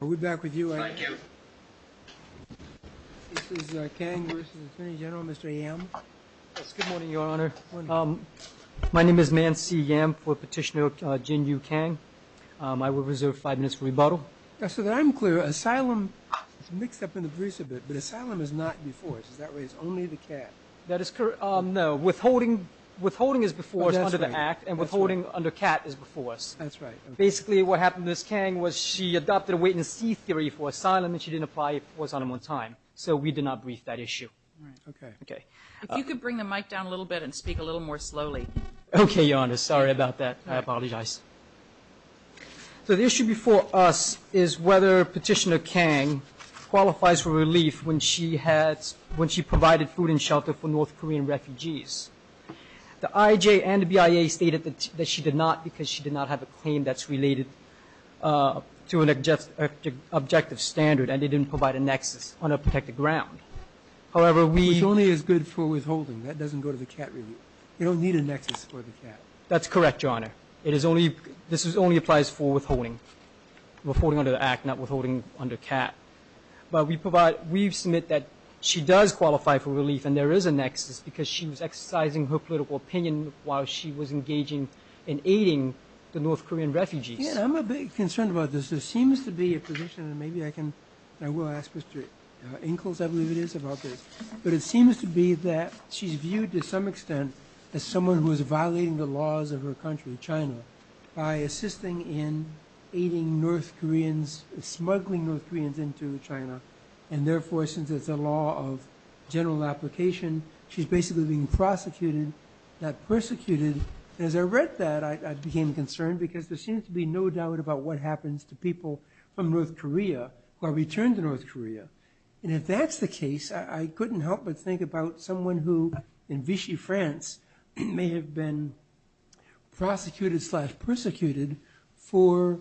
We're back with you. Thank you. This is Kang versus Attorney General, Mr. Yam. Yes, good morning, Your Honor. My name is Man C. Yam for Petitioner Jin Yu Kang. I will reserve five minutes for rebuttal. So that I'm clear, asylum is mixed up in the briefs a bit, but asylum is not before us. Is that right? It's only the cat. That is correct. No, withholding is before us under the Act and withholding under cat is before us. That's right. Basically, what happened to Ms. Kang was she adopted a wait-and-see theory for asylum, and she didn't apply it for asylum on time. So we did not brief that issue. If you could bring the mic down a little bit and speak a little more slowly. Okay, Your Honor. Sorry about that. So the issue before us is whether Petitioner Kang qualifies for relief when she provided food and shelter for North Korean refugees. The IJA and the BIA stated that she did not because she did not have a claim that's related to an objective standard, and they didn't provide a nexus on a protected ground. However, we... Which only is good for withholding. That doesn't go to the cat relief. You don't need a nexus for the cat. That's correct, Your Honor. It is only, this only applies for withholding, withholding under the Act, not withholding under cat. But we provide, we submit that she does qualify for relief, and there is a nexus because she was exercising her political opinion while she was engaging in aiding the North Korean refugees. Yeah, I'm a bit concerned about this. There seems to be a position, and maybe I can, I will ask Mr. Inkels, I believe it is, about this. But it seems to be that she's viewed to some extent as someone who is violating the laws of her country, China, by assisting in aiding North Koreans, smuggling North Koreans into China. And therefore, since it's a law of general application, she's basically being prosecuted, not persecuted. As I read that, I became concerned because there seems to be no doubt about what happens to people from North Korea who are returned to North Korea. And if that's the case, I couldn't help but think about someone who, in Vichy, France, may have been prosecuted slash persecuted for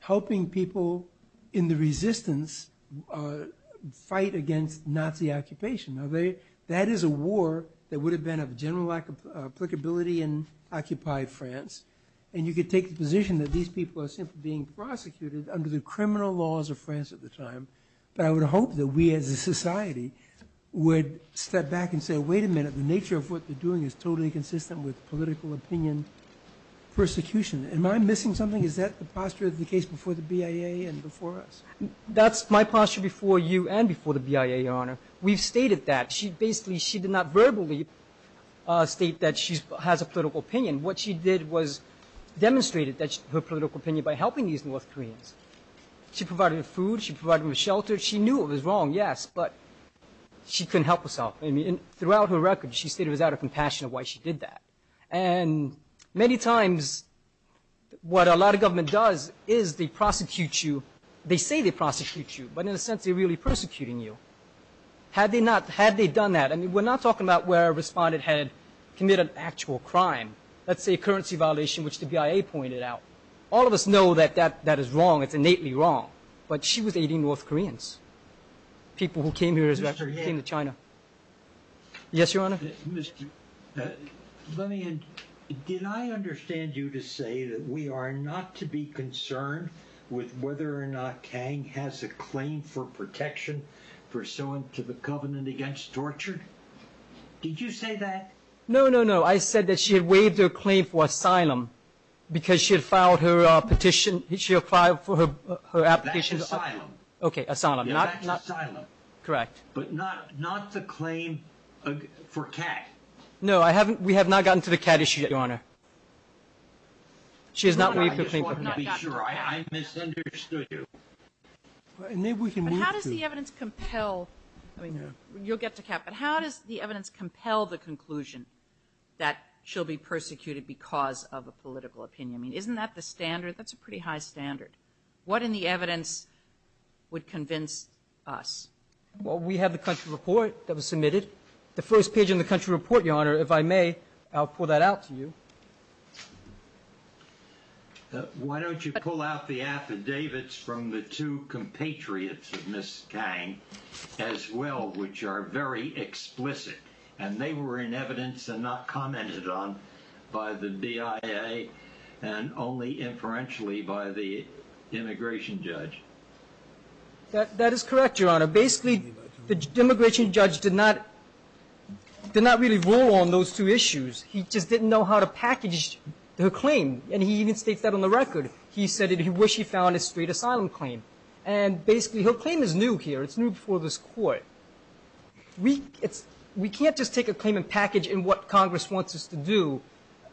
helping people in the resistance fight against Nazi occupation. Now, that is a war that would have been of general applicability in occupied France. And you could take the position that these people are simply being prosecuted under the criminal laws of France at the time. But I would hope that we as a society would step back and say, wait a minute, the nature of what they're doing is totally consistent with political opinion persecution. Am I missing something? Is that the posture of the case before the BIA and before us? That's my posture before you and before the BIA, Your Honor. We've stated that. She basically, she did not verbally state that she has a political opinion. What she did was demonstrated her political opinion by helping these North Koreans. She provided food. She provided them a shelter. She knew it was wrong, yes, but she couldn't help herself. I mean, throughout her record, she stated it was out of compassion of why she did that. And many times, what a lot of government does is they prosecute you. They say they prosecute you, but in a sense, they're really persecuting you. Had they not, had they done that, I mean, we're not talking about where a respondent had committed an actual crime. Let's say currency violation, which the BIA pointed out. All of us know that that that is wrong. It's innately wrong. But she was aiding North Koreans. People who came here, came to China. Yes, Your Honor. Mr. Let me, did I understand you to say that we are not to be concerned with whether or not Kang has a claim for protection for so into the covenant against torture? Did you say that? No, no, no. I said that she had waived her claim for asylum because she had filed her petition. She applied for her application. Okay. Asylum. Correct. But not, not the claim for Kat. No, I haven't. We have not gotten to the Kat issue, Your Honor. She has not waived her claim. No, no, I just wanted to be sure. I misunderstood you. Maybe we can move to. But how does the evidence compel, I mean, you'll get to Kat, but how does the evidence compel the conclusion that she'll be persecuted because of a political opinion? I mean, isn't that the standard? That's a pretty high standard. What in the evidence would convince us? Well, we have the country report that was submitted the first page in the country report. Your Honor, if I may, I'll pull that out to you. Why don't you pull out the affidavits from the two compatriots of Ms. Kang as well, which are very explicit and they were in evidence and not commented on by the DIA and only inferentially by the immigration judge. That, that is correct. Your Honor. Basically, the immigration judge did not, did not really roll on those two issues. He just didn't know how to package her claim. And he even states that on the record. He said that he wished he found a straight asylum claim. And basically, her claim is new here. It's new before this court. We, it's, we can't just take a claim and package in what Congress wants us to do,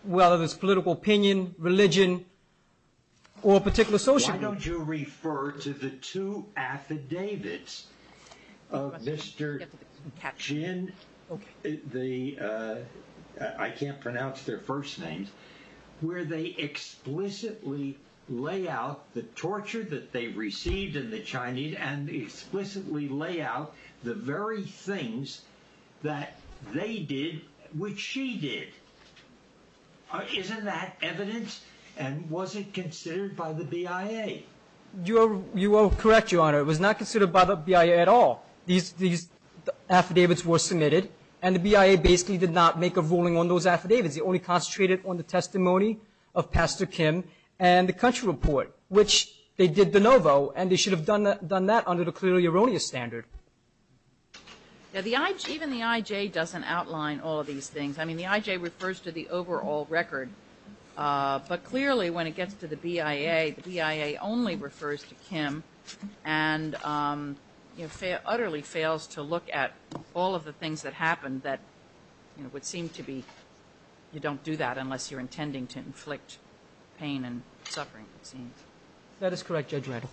whether it's political opinion, religion or a particular social. Why don't you refer to the two affidavits of Mr. Jin? The, I can't pronounce their first names, where they explicitly lay out the torture that they received in the Chinese and explicitly lay out the very things that they did, which she did. Isn't that evidence and was it considered by the BIA? You are, you are correct, Your Honor. It was not considered by the BIA at all. These, these affidavits were submitted and the BIA basically did not make a ruling on those affidavits. They only concentrated on the testimony of Pastor Kim and the country report, which they did de novo. And they should have done that, done that under the clearly erroneous standard. Now, the IJ, even the IJ doesn't outline all of these things. I mean, the IJ refers to the overall record, but clearly when it gets to the BIA, the BIA only refers to Kim and, you know, utterly fails to look at all of the things that happened that, you know, would seem to be, you don't do that unless you're intending to inflict pain and suffering, it seems. That is correct, Judge Rattle.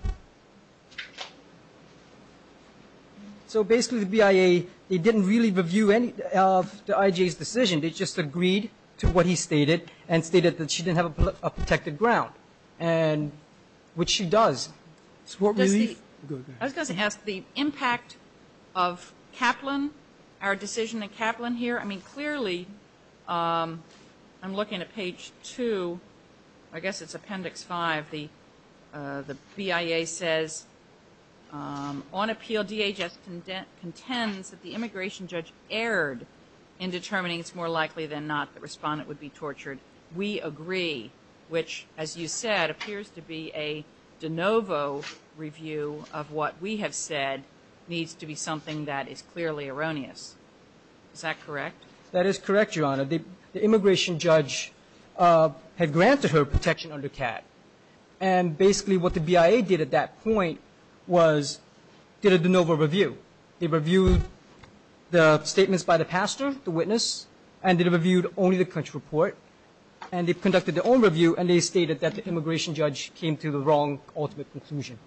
So basically the BIA, they didn't really review any of the IJ's decision. They just agreed to what he stated and stated that she didn't have a protected ground and, which she does. So what really, I was going to ask the impact of Kaplan, our decision in Kaplan here. I mean, clearly I'm looking at page two, I guess it's appendix five, the BIA says, on appeal DHS contends that the immigration judge erred in determining it's more likely than not the respondent would be tortured. We agree, which as you said, appears to be a de novo review of what we have said needs to be something that is clearly erroneous. Is that correct? That is correct, Your Honor. The immigration judge had granted her protection under CAT and basically what the BIA did at that point was did a de novo review. They reviewed the statements by the pastor, the witness, and they reviewed only the country report and they conducted their own review and they stated that the immigration judge came to the wrong ultimate conclusion.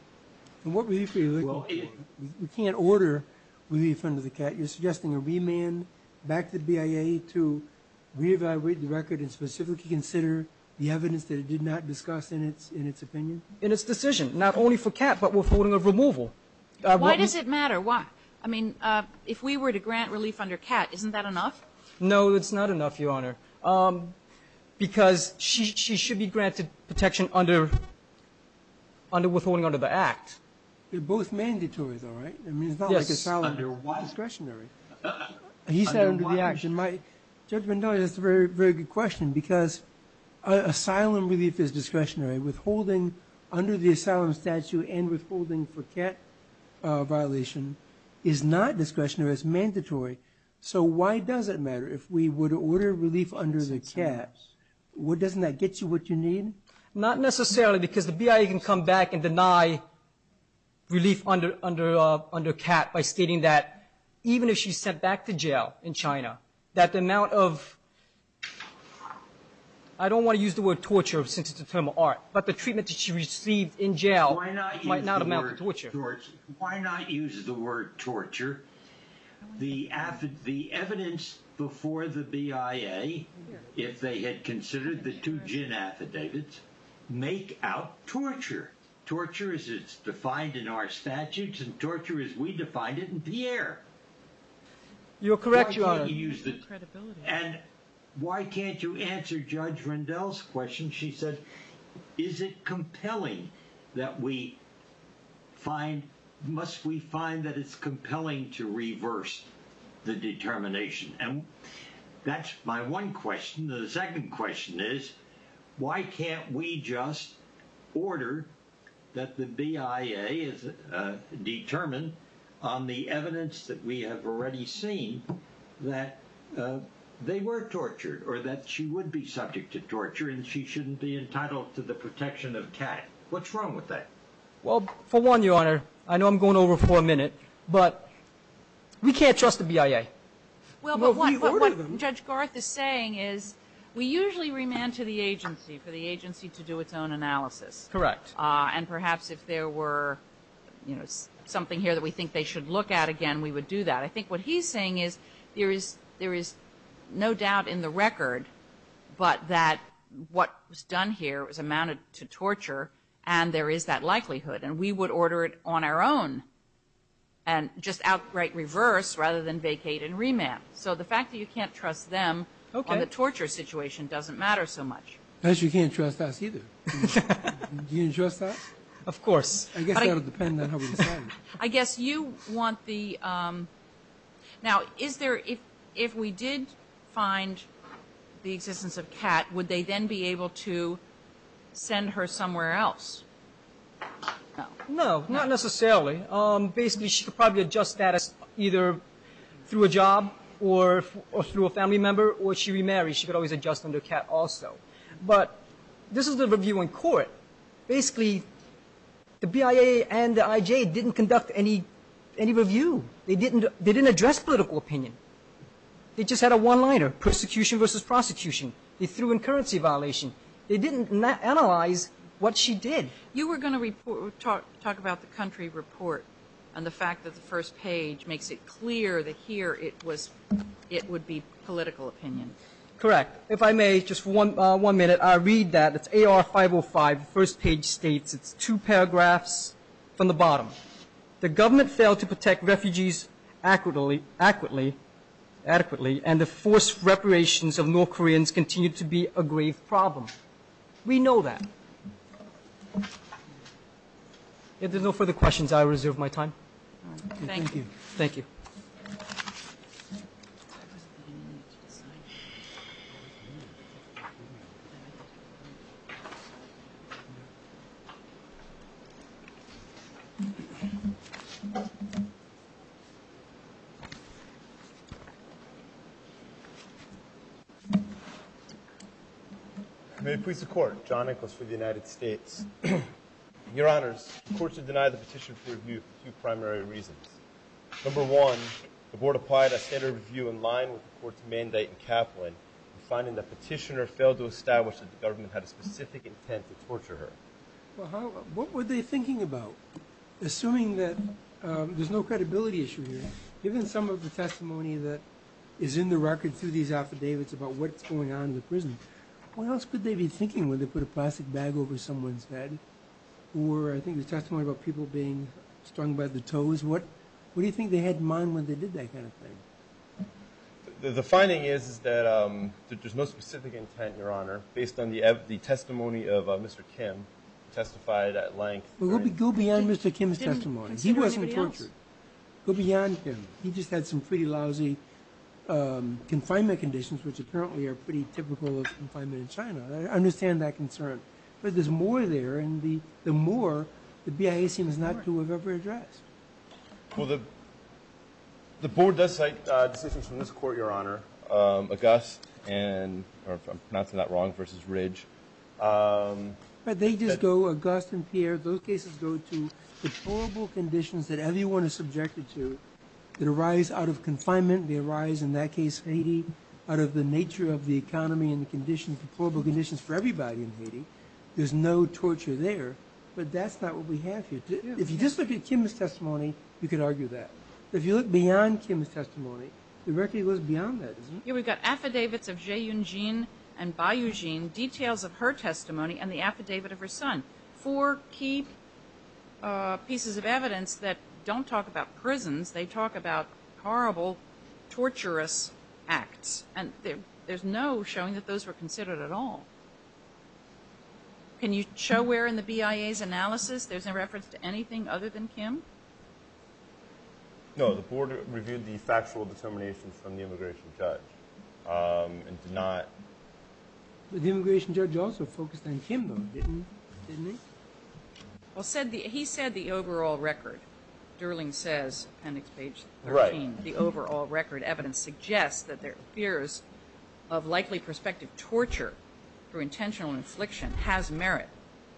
And what were you feeling? Well, we can't order relief under the CAT. You're suggesting a remand back to the BIA to reevaluate the record and specifically consider the evidence that it did not discuss in its opinion? In its decision, not only for CAT, but withholding of removal. Why does it matter? Why? I mean, if we were to grant relief under CAT, isn't that enough? No, it's not enough, Your Honor. Because she should be granted protection under withholding under the act. They're both mandatory, though, right? I mean, it's not like asylum is discretionary. He said under the action. My judgment, that's a very good question because asylum relief is discretionary. Withholding under the asylum statute and withholding for CAT violation is not discretionary. It's mandatory. So why does it matter if we would order relief under the CAT? Doesn't that get you what you need? Not necessarily because the BIA can come back and deny relief under CAT by stating that even if she's sent back to jail in China, that the amount of, I don't want to use the word torture since it's a term of art, but the treatment that she received in jail might not amount to torture. Why not use the word torture? The evidence before the BIA, if they had considered the two gin affidavits, make out torture. Torture as it's defined in our statutes and torture as we defined it in Pierre. You're correct, Your Honor. And why can't you answer Judge Rendell's question? She said, is it compelling that we find must we find that it's compelling to reverse the determination? And that's my one question. The second question is, why can't we just order that the BIA is determined on the evidence that we have already seen that they were tortured or that she would be subject to torture and she shouldn't be entitled to the protection of CAT? What's wrong with that? Well, for one, Your Honor, I know I'm going over for a minute, but we can't trust the BIA. Well, but what Judge Garth is saying is we usually remand to the agency for the agency to do its own analysis. Correct. And perhaps if there were, you know, something here that we think they should look at again, we would do that. I think what he's saying is there is no doubt in the record, but that what was done here was amounted to torture and there is that likelihood. And we would order it on our own and just outright reverse rather than vacate and remand. So the fact that you can't trust them on the torture situation doesn't matter so much. Because you can't trust us either. Do you trust us? Of course. I guess that'll depend on how we decide. I guess you want the, now, is there, if we did find the existence of CAT, would they then be able to send her somewhere else? No, not necessarily. Basically, she could probably adjust that as either through a job or through a family member or she remarries. She could always adjust under CAT also. But this is the review in court. Basically, the BIA and the IJ didn't conduct any review. They didn't address political opinion. They just had a one-liner, persecution versus prosecution. They threw in currency violation. They didn't analyze what she did. You were going to talk about the country report and the fact that the first page makes it clear that here it would be political opinion. Correct. If I may, just for one minute, I'll read that. It's AR 505. The first page states, it's two paragraphs from the bottom. The government failed to protect refugees adequately and the forced reparations of North Koreans continue to be a grave problem. We know that. If there's no further questions, I reserve my time. Thank you. Thank you. May it please the Court. John Nichols for the United States. Your Honors, the courts have denied the petitioner for review for two primary reasons. Number one, the board applied a standard review in line with the court's mandate in Kaplan, and finding that the petitioner failed to establish that the government had a specific intent to torture her. Well, what were they thinking about? Assuming that there's no credibility issue here, given some of the testimony that is in the record through these affidavits about what's going on in the prison, what else could they be thinking when they put a plastic bag over someone's head? Or I think the testimony about people being strung by the toes. What do you think they had in mind when they did that kind of thing? The finding is that there's no specific intent, Your Honor, based on the testimony of Mr. Kim, testified at length. Well, go beyond Mr. Kim's testimony. He wasn't tortured. Go beyond him. He just had some pretty lousy confinement conditions, which apparently are pretty typical of confinement in China. I understand that concern. But there's more there, and the more the BIA seems not to have ever addressed. Well, the board does cite decisions from this court, Your Honor, Auguste and, or if I'm pronouncing that wrong, versus Ridge. But they just go, Auguste and Pierre, those cases go to the horrible conditions that everyone is subjected to that arise out of confinement. They arise, in that case, Haiti, out of the nature of the economy and the conditions, the horrible conditions for everybody in Haiti. There's no torture there. But that's not what we have here. If you just look at Kim's testimony, you could argue that. If you look beyond Kim's testimony, the record goes beyond that. Here we've got affidavits of Zhe Yun-Jin and Bai Yu-Jin, details of her testimony and the affidavit of her son. Four key pieces of evidence that don't talk about prisons. They talk about horrible, torturous acts, and there's no showing that those were considered at all. Can you show where in the BIA's analysis there's a reference to anything other than Kim? No, the board reviewed the factual determinations from the immigration judge and did not. But the immigration judge also focused on Kim, though, didn't he? Well, he said the overall record. Durling says, appendix page 13, the overall record evidence suggests that their fears of likely prospective torture through intentional infliction has merit.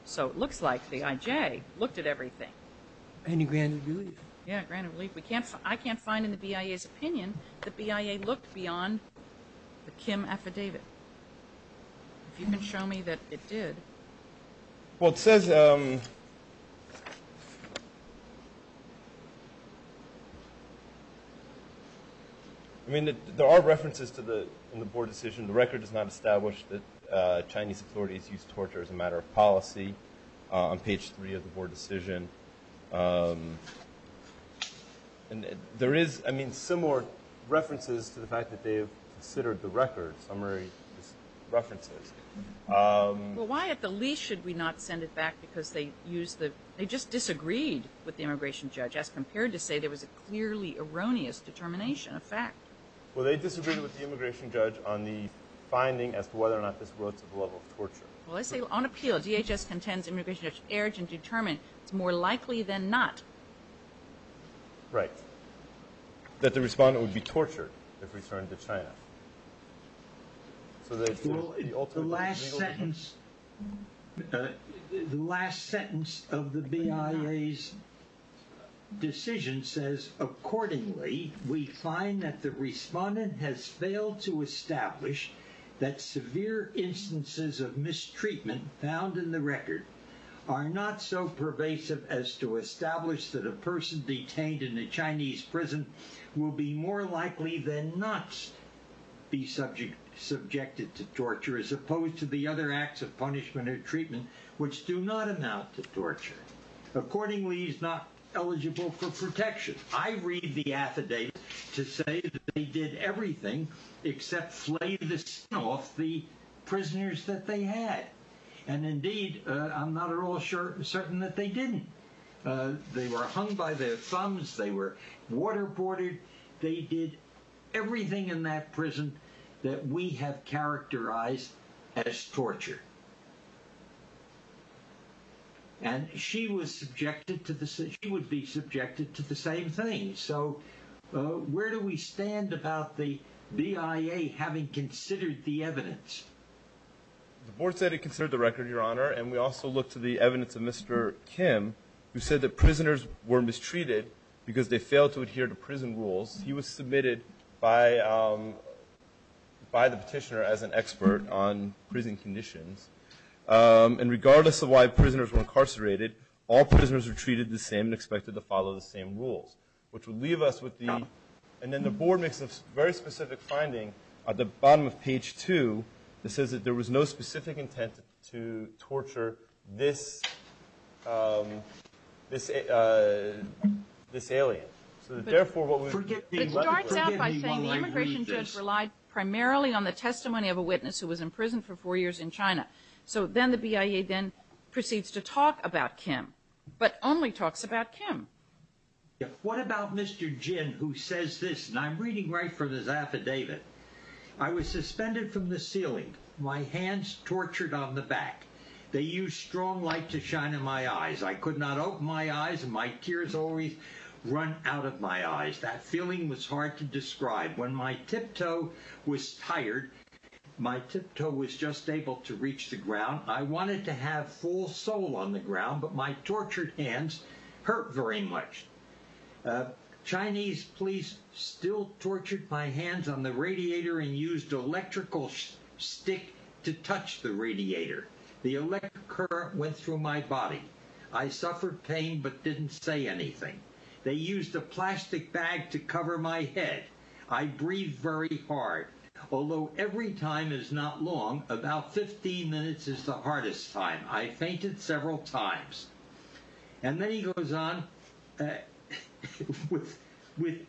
So it looks like the IJ looked at everything. And he granted relief. Yeah, granted relief. I can't find in the BIA's opinion that the BIA looked beyond the Kim affidavit. If you can show me that it did. Well, it says... I mean, there are references in the board decision. The record does not establish that Chinese authorities used torture as a matter of policy on page 3 of the board decision. And there is, I mean, similar references to the fact that they have considered the record, summary references. Well, why at the least should we not send it back because they just disagreed with the immigration judge as compared to say there was a clearly erroneous determination, a fact? Well, they disagreed with the immigration judge on the finding as to whether or not this was a level of torture. Well, they say, on appeal, DHS contends the immigration judge erred and determined it's more likely than not. Right. That the respondent would be tortured if returned to China. The last sentence... The last sentence of the BIA's decision says, Accordingly, we find that the respondent has failed to establish that severe instances of mistreatment found in the record are not so pervasive as to establish that a person detained in a Chinese prison will be more likely than not be subjected to torture as opposed to the other acts of punishment or treatment which do not amount to torture. Accordingly, he's not eligible for protection. I read the affidavit to say that they did everything except flay the skin off the prisoners that they had. And indeed, I'm not at all certain that they didn't. They were hung by their thumbs. They were waterboarded. They did everything in that prison that we have characterized as torture. And she was subjected to this. She would be subjected to the same thing. So where do we stand about the BIA having considered the evidence? The board said it considered the record, Your Honor. And we also look to the evidence of Mr. Kim, who said that prisoners were mistreated because they failed to adhere to prison rules. He was submitted by the petitioner as an expert on prison conditions. And regardless of why prisoners were incarcerated, all prisoners were treated the same and expected to follow the same rules. And then the board makes a very specific finding at the bottom of page two that says that there was no specific intent to torture this alien. But it starts out by saying the immigration judge relied primarily on the testimony of a witness who was in prison for four years in China. So then the BIA then proceeds to talk about Kim, but only talks about Kim. What about Mr. Jin, who says this? And I'm reading right from his affidavit. I was suspended from the ceiling, my hands tortured on the back. They used strong light to shine in my eyes. I could not open my eyes. My tears always run out of my eyes. That feeling was hard to describe. When my tiptoe was tired, my tiptoe was just able to reach the ground. I wanted to have full soul on the ground, but my tortured hands hurt very much. Chinese police still tortured my hands on the radiator and used electrical stick to touch the radiator. The electric current went through my body. I suffered pain but didn't say anything. They used a plastic bag to cover my head. I breathed very hard. Although every time is not long, about 15 minutes is the hardest time. I fainted several times. And then he goes on with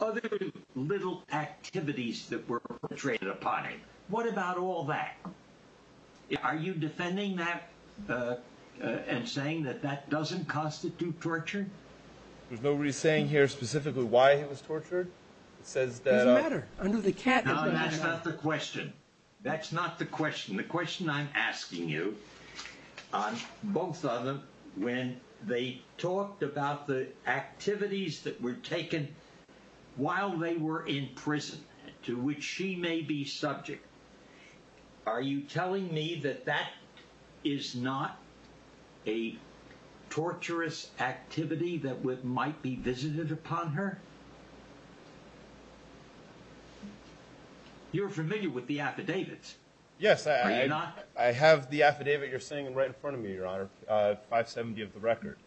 other little activities that were portrayed upon him. What about all that? Are you defending that and saying that that doesn't constitute torture? There's nobody saying here specifically why he was tortured. It doesn't matter. No, that's not the question. That's not the question. The question I'm asking you, on both of them, when they talked about the activities that were taken while they were in prison, to which she may be subject. Are you telling me that that is not a torturous activity that might be visited upon her? You're familiar with the affidavits. Yes, I have the affidavit you're seeing right in front of me, Your Honor, 570 of the record.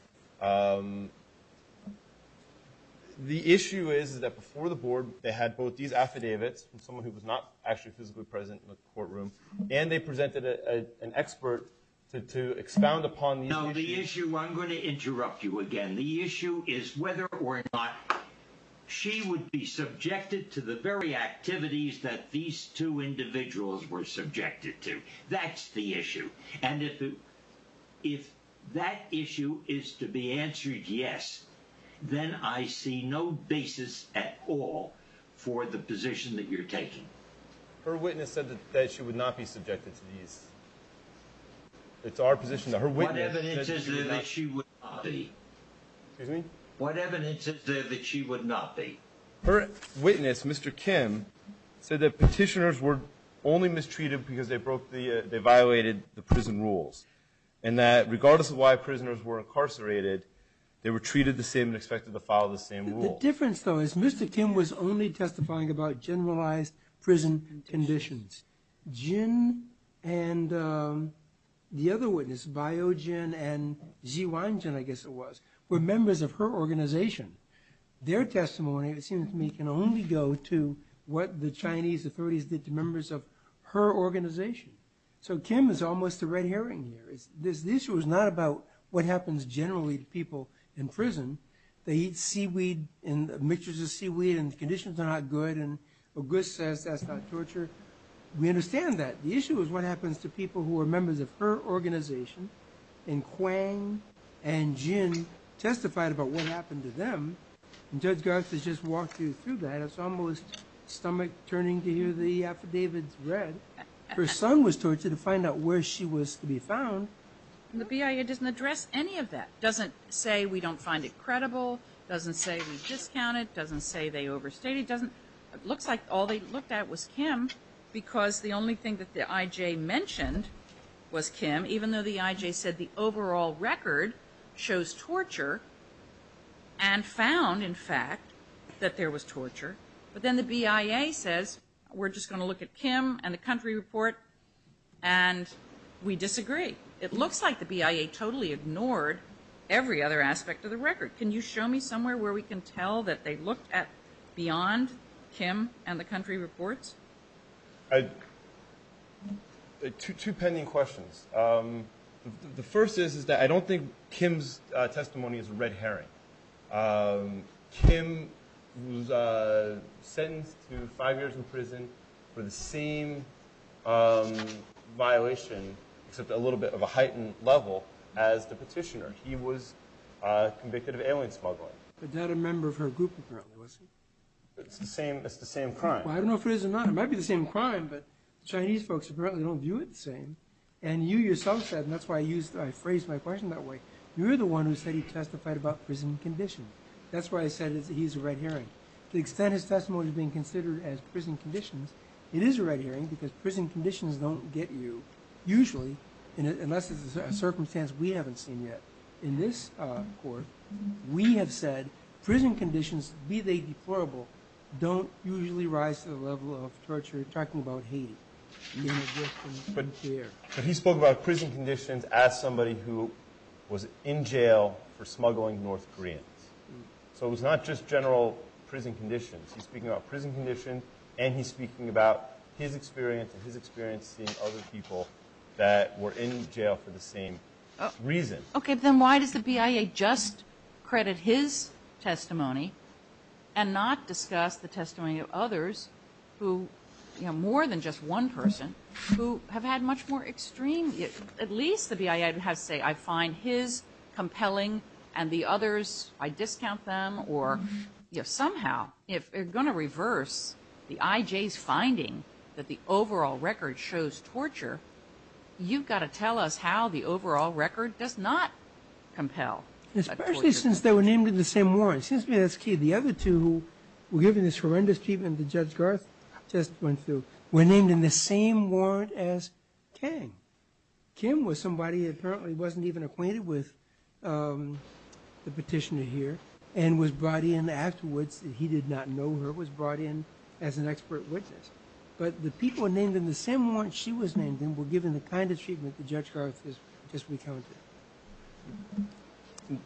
The issue is that before the board, they had both these affidavits from someone who was not actually physically present in the courtroom. And they presented an expert to expound upon these issues. No, the issue, I'm going to interrupt you again. The issue is whether or not she would be subjected to the very activities that these two individuals were subjected to. That's the issue. And if that issue is to be answered yes, then I see no basis at all for the position that you're taking. Her witness said that she would not be subjected to these. It's our position that her witness said that she would not be. Excuse me? What evidence is there that she would not be? Her witness, Mr. Kim, said that petitioners were only mistreated because they violated the prison rules. And that regardless of why prisoners were incarcerated, they were treated the same and expected to follow the same rules. The difference, though, is Mr. Kim was only testifying about generalized prison conditions. Jin and the other witness, Baio Jin and Ji Wan Jin, I guess it was, were members of her organization. Their testimony, it seems to me, can only go to what the Chinese authorities did to members of her organization. So Kim is almost a red herring here. This issue is not about what happens generally to people in prison. They eat seaweed, mixtures of seaweed, and the conditions are not good. And Auguste says that's not torture. We understand that. The issue is what happens to people who are members of her organization. Baio Jin and Quang and Jin testified about what happened to them. Judge Garza just walked you through that. It's almost stomach-turning to hear the affidavits read. Her son was tortured to find out where she was to be found. The BIA doesn't address any of that. It doesn't say we don't find it credible. It doesn't say we discount it. It doesn't say they overstated. It looks like all they looked at was Kim because the only thing that the IJ mentioned was Kim, even though the IJ said the overall record shows torture and found, in fact, that there was torture. But then the BIA says we're just going to look at Kim and the country report, and we disagree. It looks like the BIA totally ignored every other aspect of the record. Can you show me somewhere where we can tell that they looked beyond Kim and the country reports? Two pending questions. The first is that I don't think Kim's testimony is a red herring. Kim was sentenced to five years in prison for the same violation, except a little bit of a heightened level, as the petitioner. He was convicted of alien smuggling. Was that a member of her group, apparently? It's the same crime. I don't know if it is or not. It might be the same crime, but the Chinese folks apparently don't view it the same. And you yourself said, and that's why I phrased my question that way, you're the one who said he testified about prison conditions. That's why I said he's a red herring. To the extent his testimony is being considered as prison conditions, it is a red herring because prison conditions don't get you, usually, unless it's a circumstance we haven't seen yet. In this court, we have said prison conditions, be they deplorable, don't usually rise to the level of torture. You're talking about hate. But he spoke about prison conditions as somebody who was in jail for smuggling North Koreans. So it was not just general prison conditions. He's speaking about prison conditions, and he's speaking about his experience and his experience seeing other people that were in jail for the same reason. So why does the BIA just credit his testimony and not discuss the testimony of others who, more than just one person, who have had much more extreme, at least the BIA has to say, I find his compelling and the others, I discount them. Or if somehow, if they're going to reverse the IJ's finding that the overall record shows torture, you've got to tell us how the overall record does not compel. Especially since they were named in the same warrant. It seems to me that's key. The other two who were given this horrendous treatment that Judge Garth just went through were named in the same warrant as Kang. Kim was somebody who apparently wasn't even acquainted with the petitioner here and was brought in afterwards. He did not know her, was brought in as an expert witness. But the people named in the same warrant she was named in were given the kind of treatment that Judge Garth just recounted.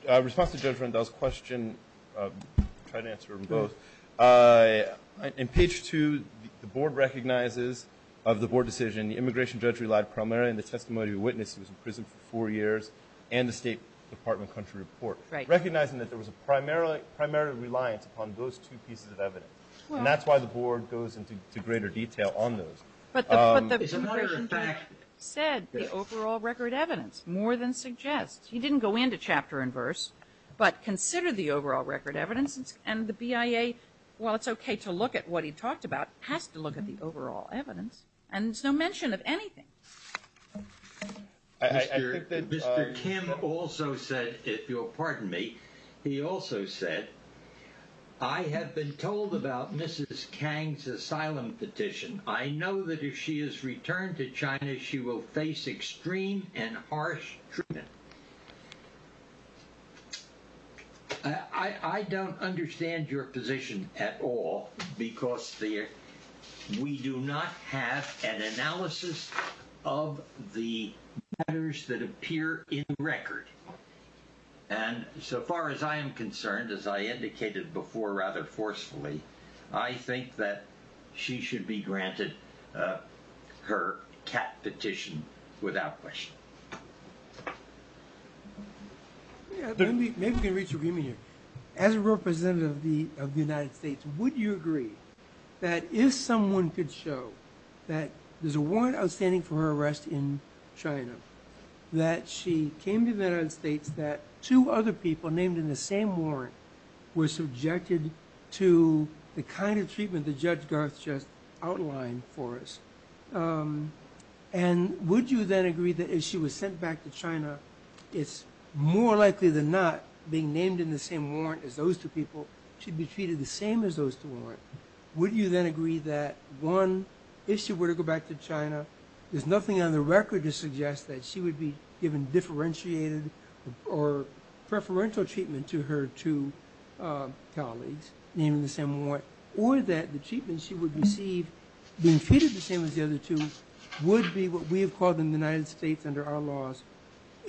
In response to Judge Rendell's question, I'll try to answer both. In page two, the board recognizes of the board decision the immigration judge relied primarily on the testimony of a witness who was in prison for four years and the State Department country report. Recognizing that there was a primary reliance upon those two pieces of evidence. And that's why the board goes into greater detail on those. But the immigration judge said the overall record evidence more than suggests. He didn't go into chapter and verse, but considered the overall record evidence. And the BIA, while it's okay to look at what he talked about, has to look at the overall evidence. And there's no mention of anything. Mr. Kim also said, if you'll pardon me, he also said, I have been told about Mrs. Kang's asylum petition. I know that if she is returned to China, she will face extreme and harsh treatment. I don't understand your position at all, because we do not have an analysis of the matters that appear in the record. And so far as I am concerned, as I indicated before rather forcefully, I think that she should be granted her cat petition without question. Maybe we can reach an agreement here. As a representative of the United States, would you agree that if someone could show that there's a warrant outstanding for her arrest in China, that she came to the United States, that two other people named in the same warrant were subjected to the kind of treatment that Judge Garth just outlined for us? And would you then agree that if she was sent back to China, it's more likely than not being named in the same warrant as those two people, she'd be treated the same as those two people. Would you then agree that, one, if she were to go back to China, there's nothing on the record to suggest that she would be given differentiated or preferential treatment to her two colleagues named in the same warrant, or that the treatment she would receive, being treated the same as the other two, would be what we have called in the United States under our laws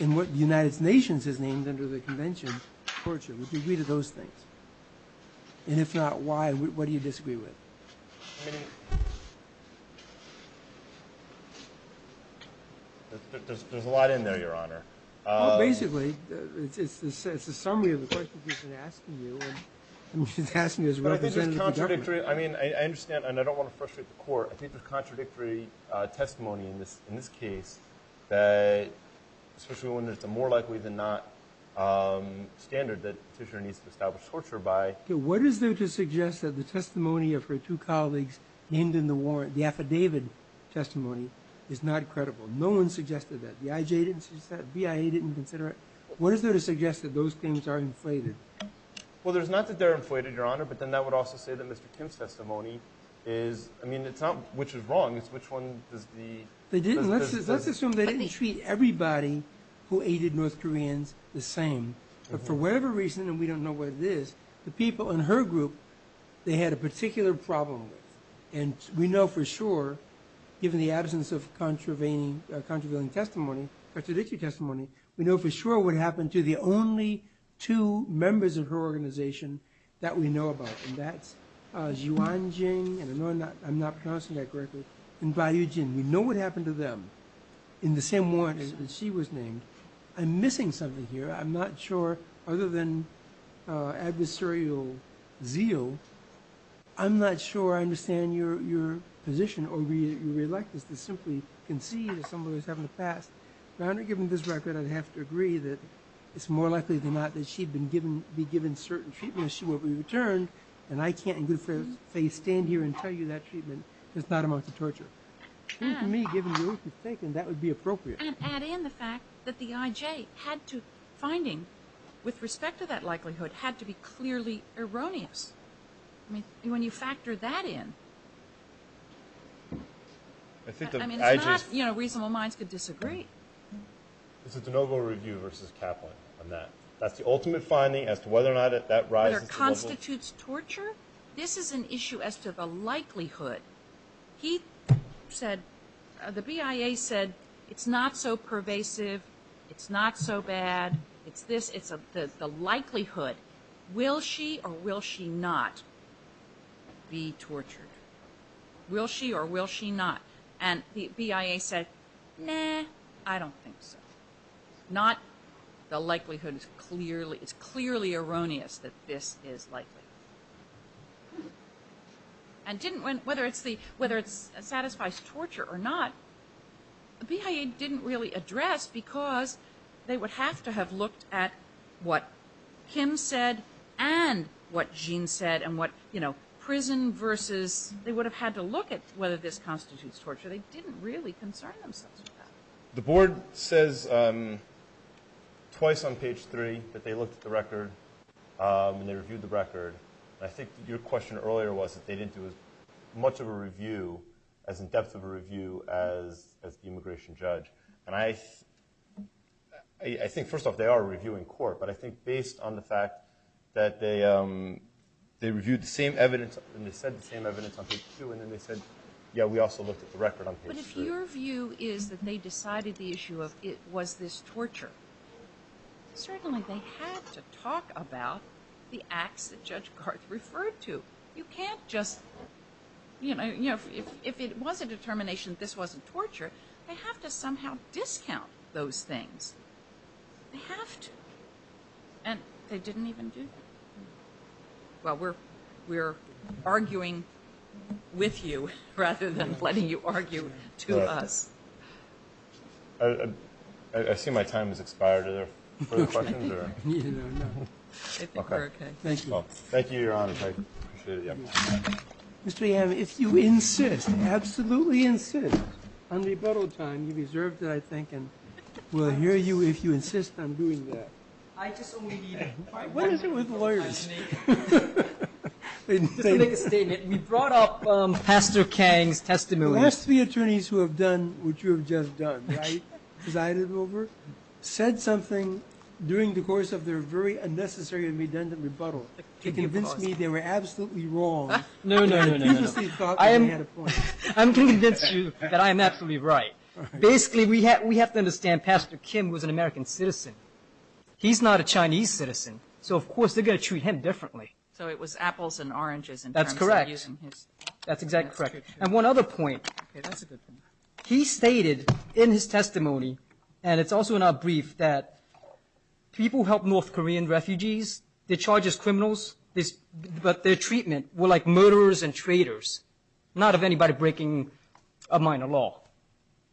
and what the United Nations has named under the Convention of Torture. Would you agree to those things? And if not, why? What do you disagree with? There's a lot in there, Your Honor. Well, basically, it's a summary of the questions we've been asking you, and we've been asking you as representatives of the government. I mean, I understand, and I don't want to frustrate the Court. I think the contradictory testimony in this case, especially when it's a more likely than not standard that a petitioner needs to establish torture by. What is there to suggest that the testimony of her two colleagues named in the warrant, the affidavit testimony, is not credible? No one suggested that. The IJ didn't suggest that, BIA didn't consider it. What is there to suggest that those things are inflated? Well, there's not that they're inflated, Your Honor, but then that would also say that Mr. Kim's testimony is, I mean, it's not which is wrong. It's which one does the… They didn't. Let's assume they didn't treat everybody who aided North Koreans the same. But for whatever reason, and we don't know what it is, the people in her group, they had a particular problem with. And we know for sure, given the absence of contravening, contraveiling testimony, contradictory testimony, we know for sure what happened to the only two members of her organization that we know about, and that's Yuan Jing, and I'm not pronouncing that correctly, and Bai Yu Jin. We know what happened to them in the same warrant that she was named. I'm missing something here. I'm not sure, other than adversarial zeal, I'm not sure I understand your position or your reluctance to simply concede to someone who's having a past. Your Honor, given this record, I'd have to agree that it's more likely than not that she'd be given certain treatment and she won't be returned, and I can't in good faith stand here and tell you that treatment is not a mouth of torture. To me, given the way it was taken, that would be appropriate. And add in the fact that the IJ had to, finding, with respect to that likelihood, had to be clearly erroneous. I mean, when you factor that in, I mean, it's not, you know, reasonable minds could disagree. It's a DeNovo review versus Kaplan on that. That's the ultimate finding as to whether or not that rises to DeNovo. Whether it constitutes torture? This is an issue as to the likelihood. He said, the BIA said, it's not so pervasive. It's not so bad. It's this, it's the likelihood. Will she or will she not be tortured? Will she or will she not? And the BIA said, nah, I don't think so. Not the likelihood is clearly, it's clearly erroneous that this is likely. And didn't, whether it's the, whether it satisfies torture or not, the BIA didn't really address because they would have to have looked at what Kim said and what Gene said and what, you know, prison versus, they would have had to look at whether this constitutes torture. They didn't really concern themselves with that. The board says twice on page three that they looked at the record and they reviewed the record. I think your question earlier was that they didn't do as much of a review, as in depth of a review, as the immigration judge. And I think, first off, they are reviewing court, but I think based on the fact that they reviewed the same evidence and they said the same evidence on page two and then they said, yeah, we also looked at the record on page three. But if your view is that they decided the issue of it was this torture, certainly they had to talk about the acts that Judge Garth referred to. You can't just, you know, if it was a determination that this wasn't torture, they have to somehow discount those things. They have to. And they didn't even do that. Well, we're arguing with you rather than letting you argue to us. I see my time has expired. Are there further questions? No, no. I think we're okay. Thank you. Thank you, Your Honor. I appreciate it. Mr. Yam, if you insist, absolutely insist on rebuttal time, you've reserved it, I think, and we'll hear you if you insist on doing that. I just only need... What is it with lawyers? Just to make a statement, we brought up Pastor Kang's testimony. The last three attorneys who have done what you have just done, right, presided over, said something during the course of their very unnecessary and redundant rebuttal to convince me they were absolutely wrong No, no, no, no, no. I am going to convince you that I am absolutely right. Basically, we have to understand Pastor Kim was an American citizen. He's not a Chinese citizen, so of course they're going to treat him differently. So it was apples and oranges in terms of using his... That's correct. That's exactly correct. And one other point, he stated in his testimony, and it's also in our brief, that people help North Korean refugees, they're charged as criminals, but their treatment were like murderers and traitors, not of anybody breaking a minor law.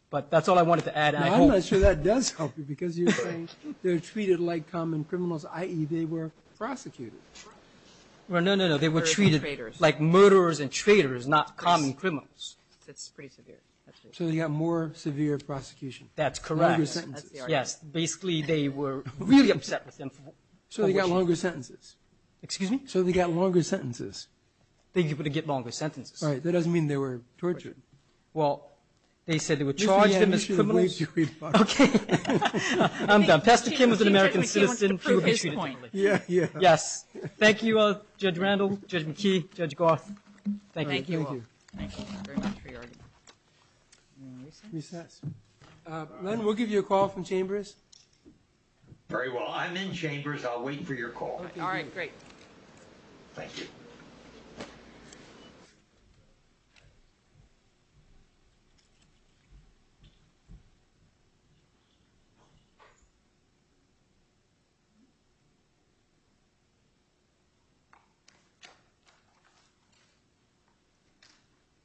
But that's all I wanted to add. I'm not sure that does help you because you're saying they're treated like common criminals, i.e., they were prosecuted. No, no, no, no. They were treated like murderers and traitors, not common criminals. That's pretty severe. So they got more severe prosecution. That's correct. Longer sentences. Yes. Basically, they were really upset with him. So they got longer sentences. Excuse me? So they got longer sentences. They were able to get longer sentences. All right. That doesn't mean they were tortured. Well, they said they were charged him as criminals. Okay. I'm done. Pastor Kim was an American citizen. He would be treated differently. Yes. Thank you, Judge Randall, Judge McKee, Judge Garth. Thank you. Thank you very much for your argument. Recess. Len, we'll give you a call from Chambers. Very well. I'm in Chambers. I'll wait for your call. All right. Great. Thank you.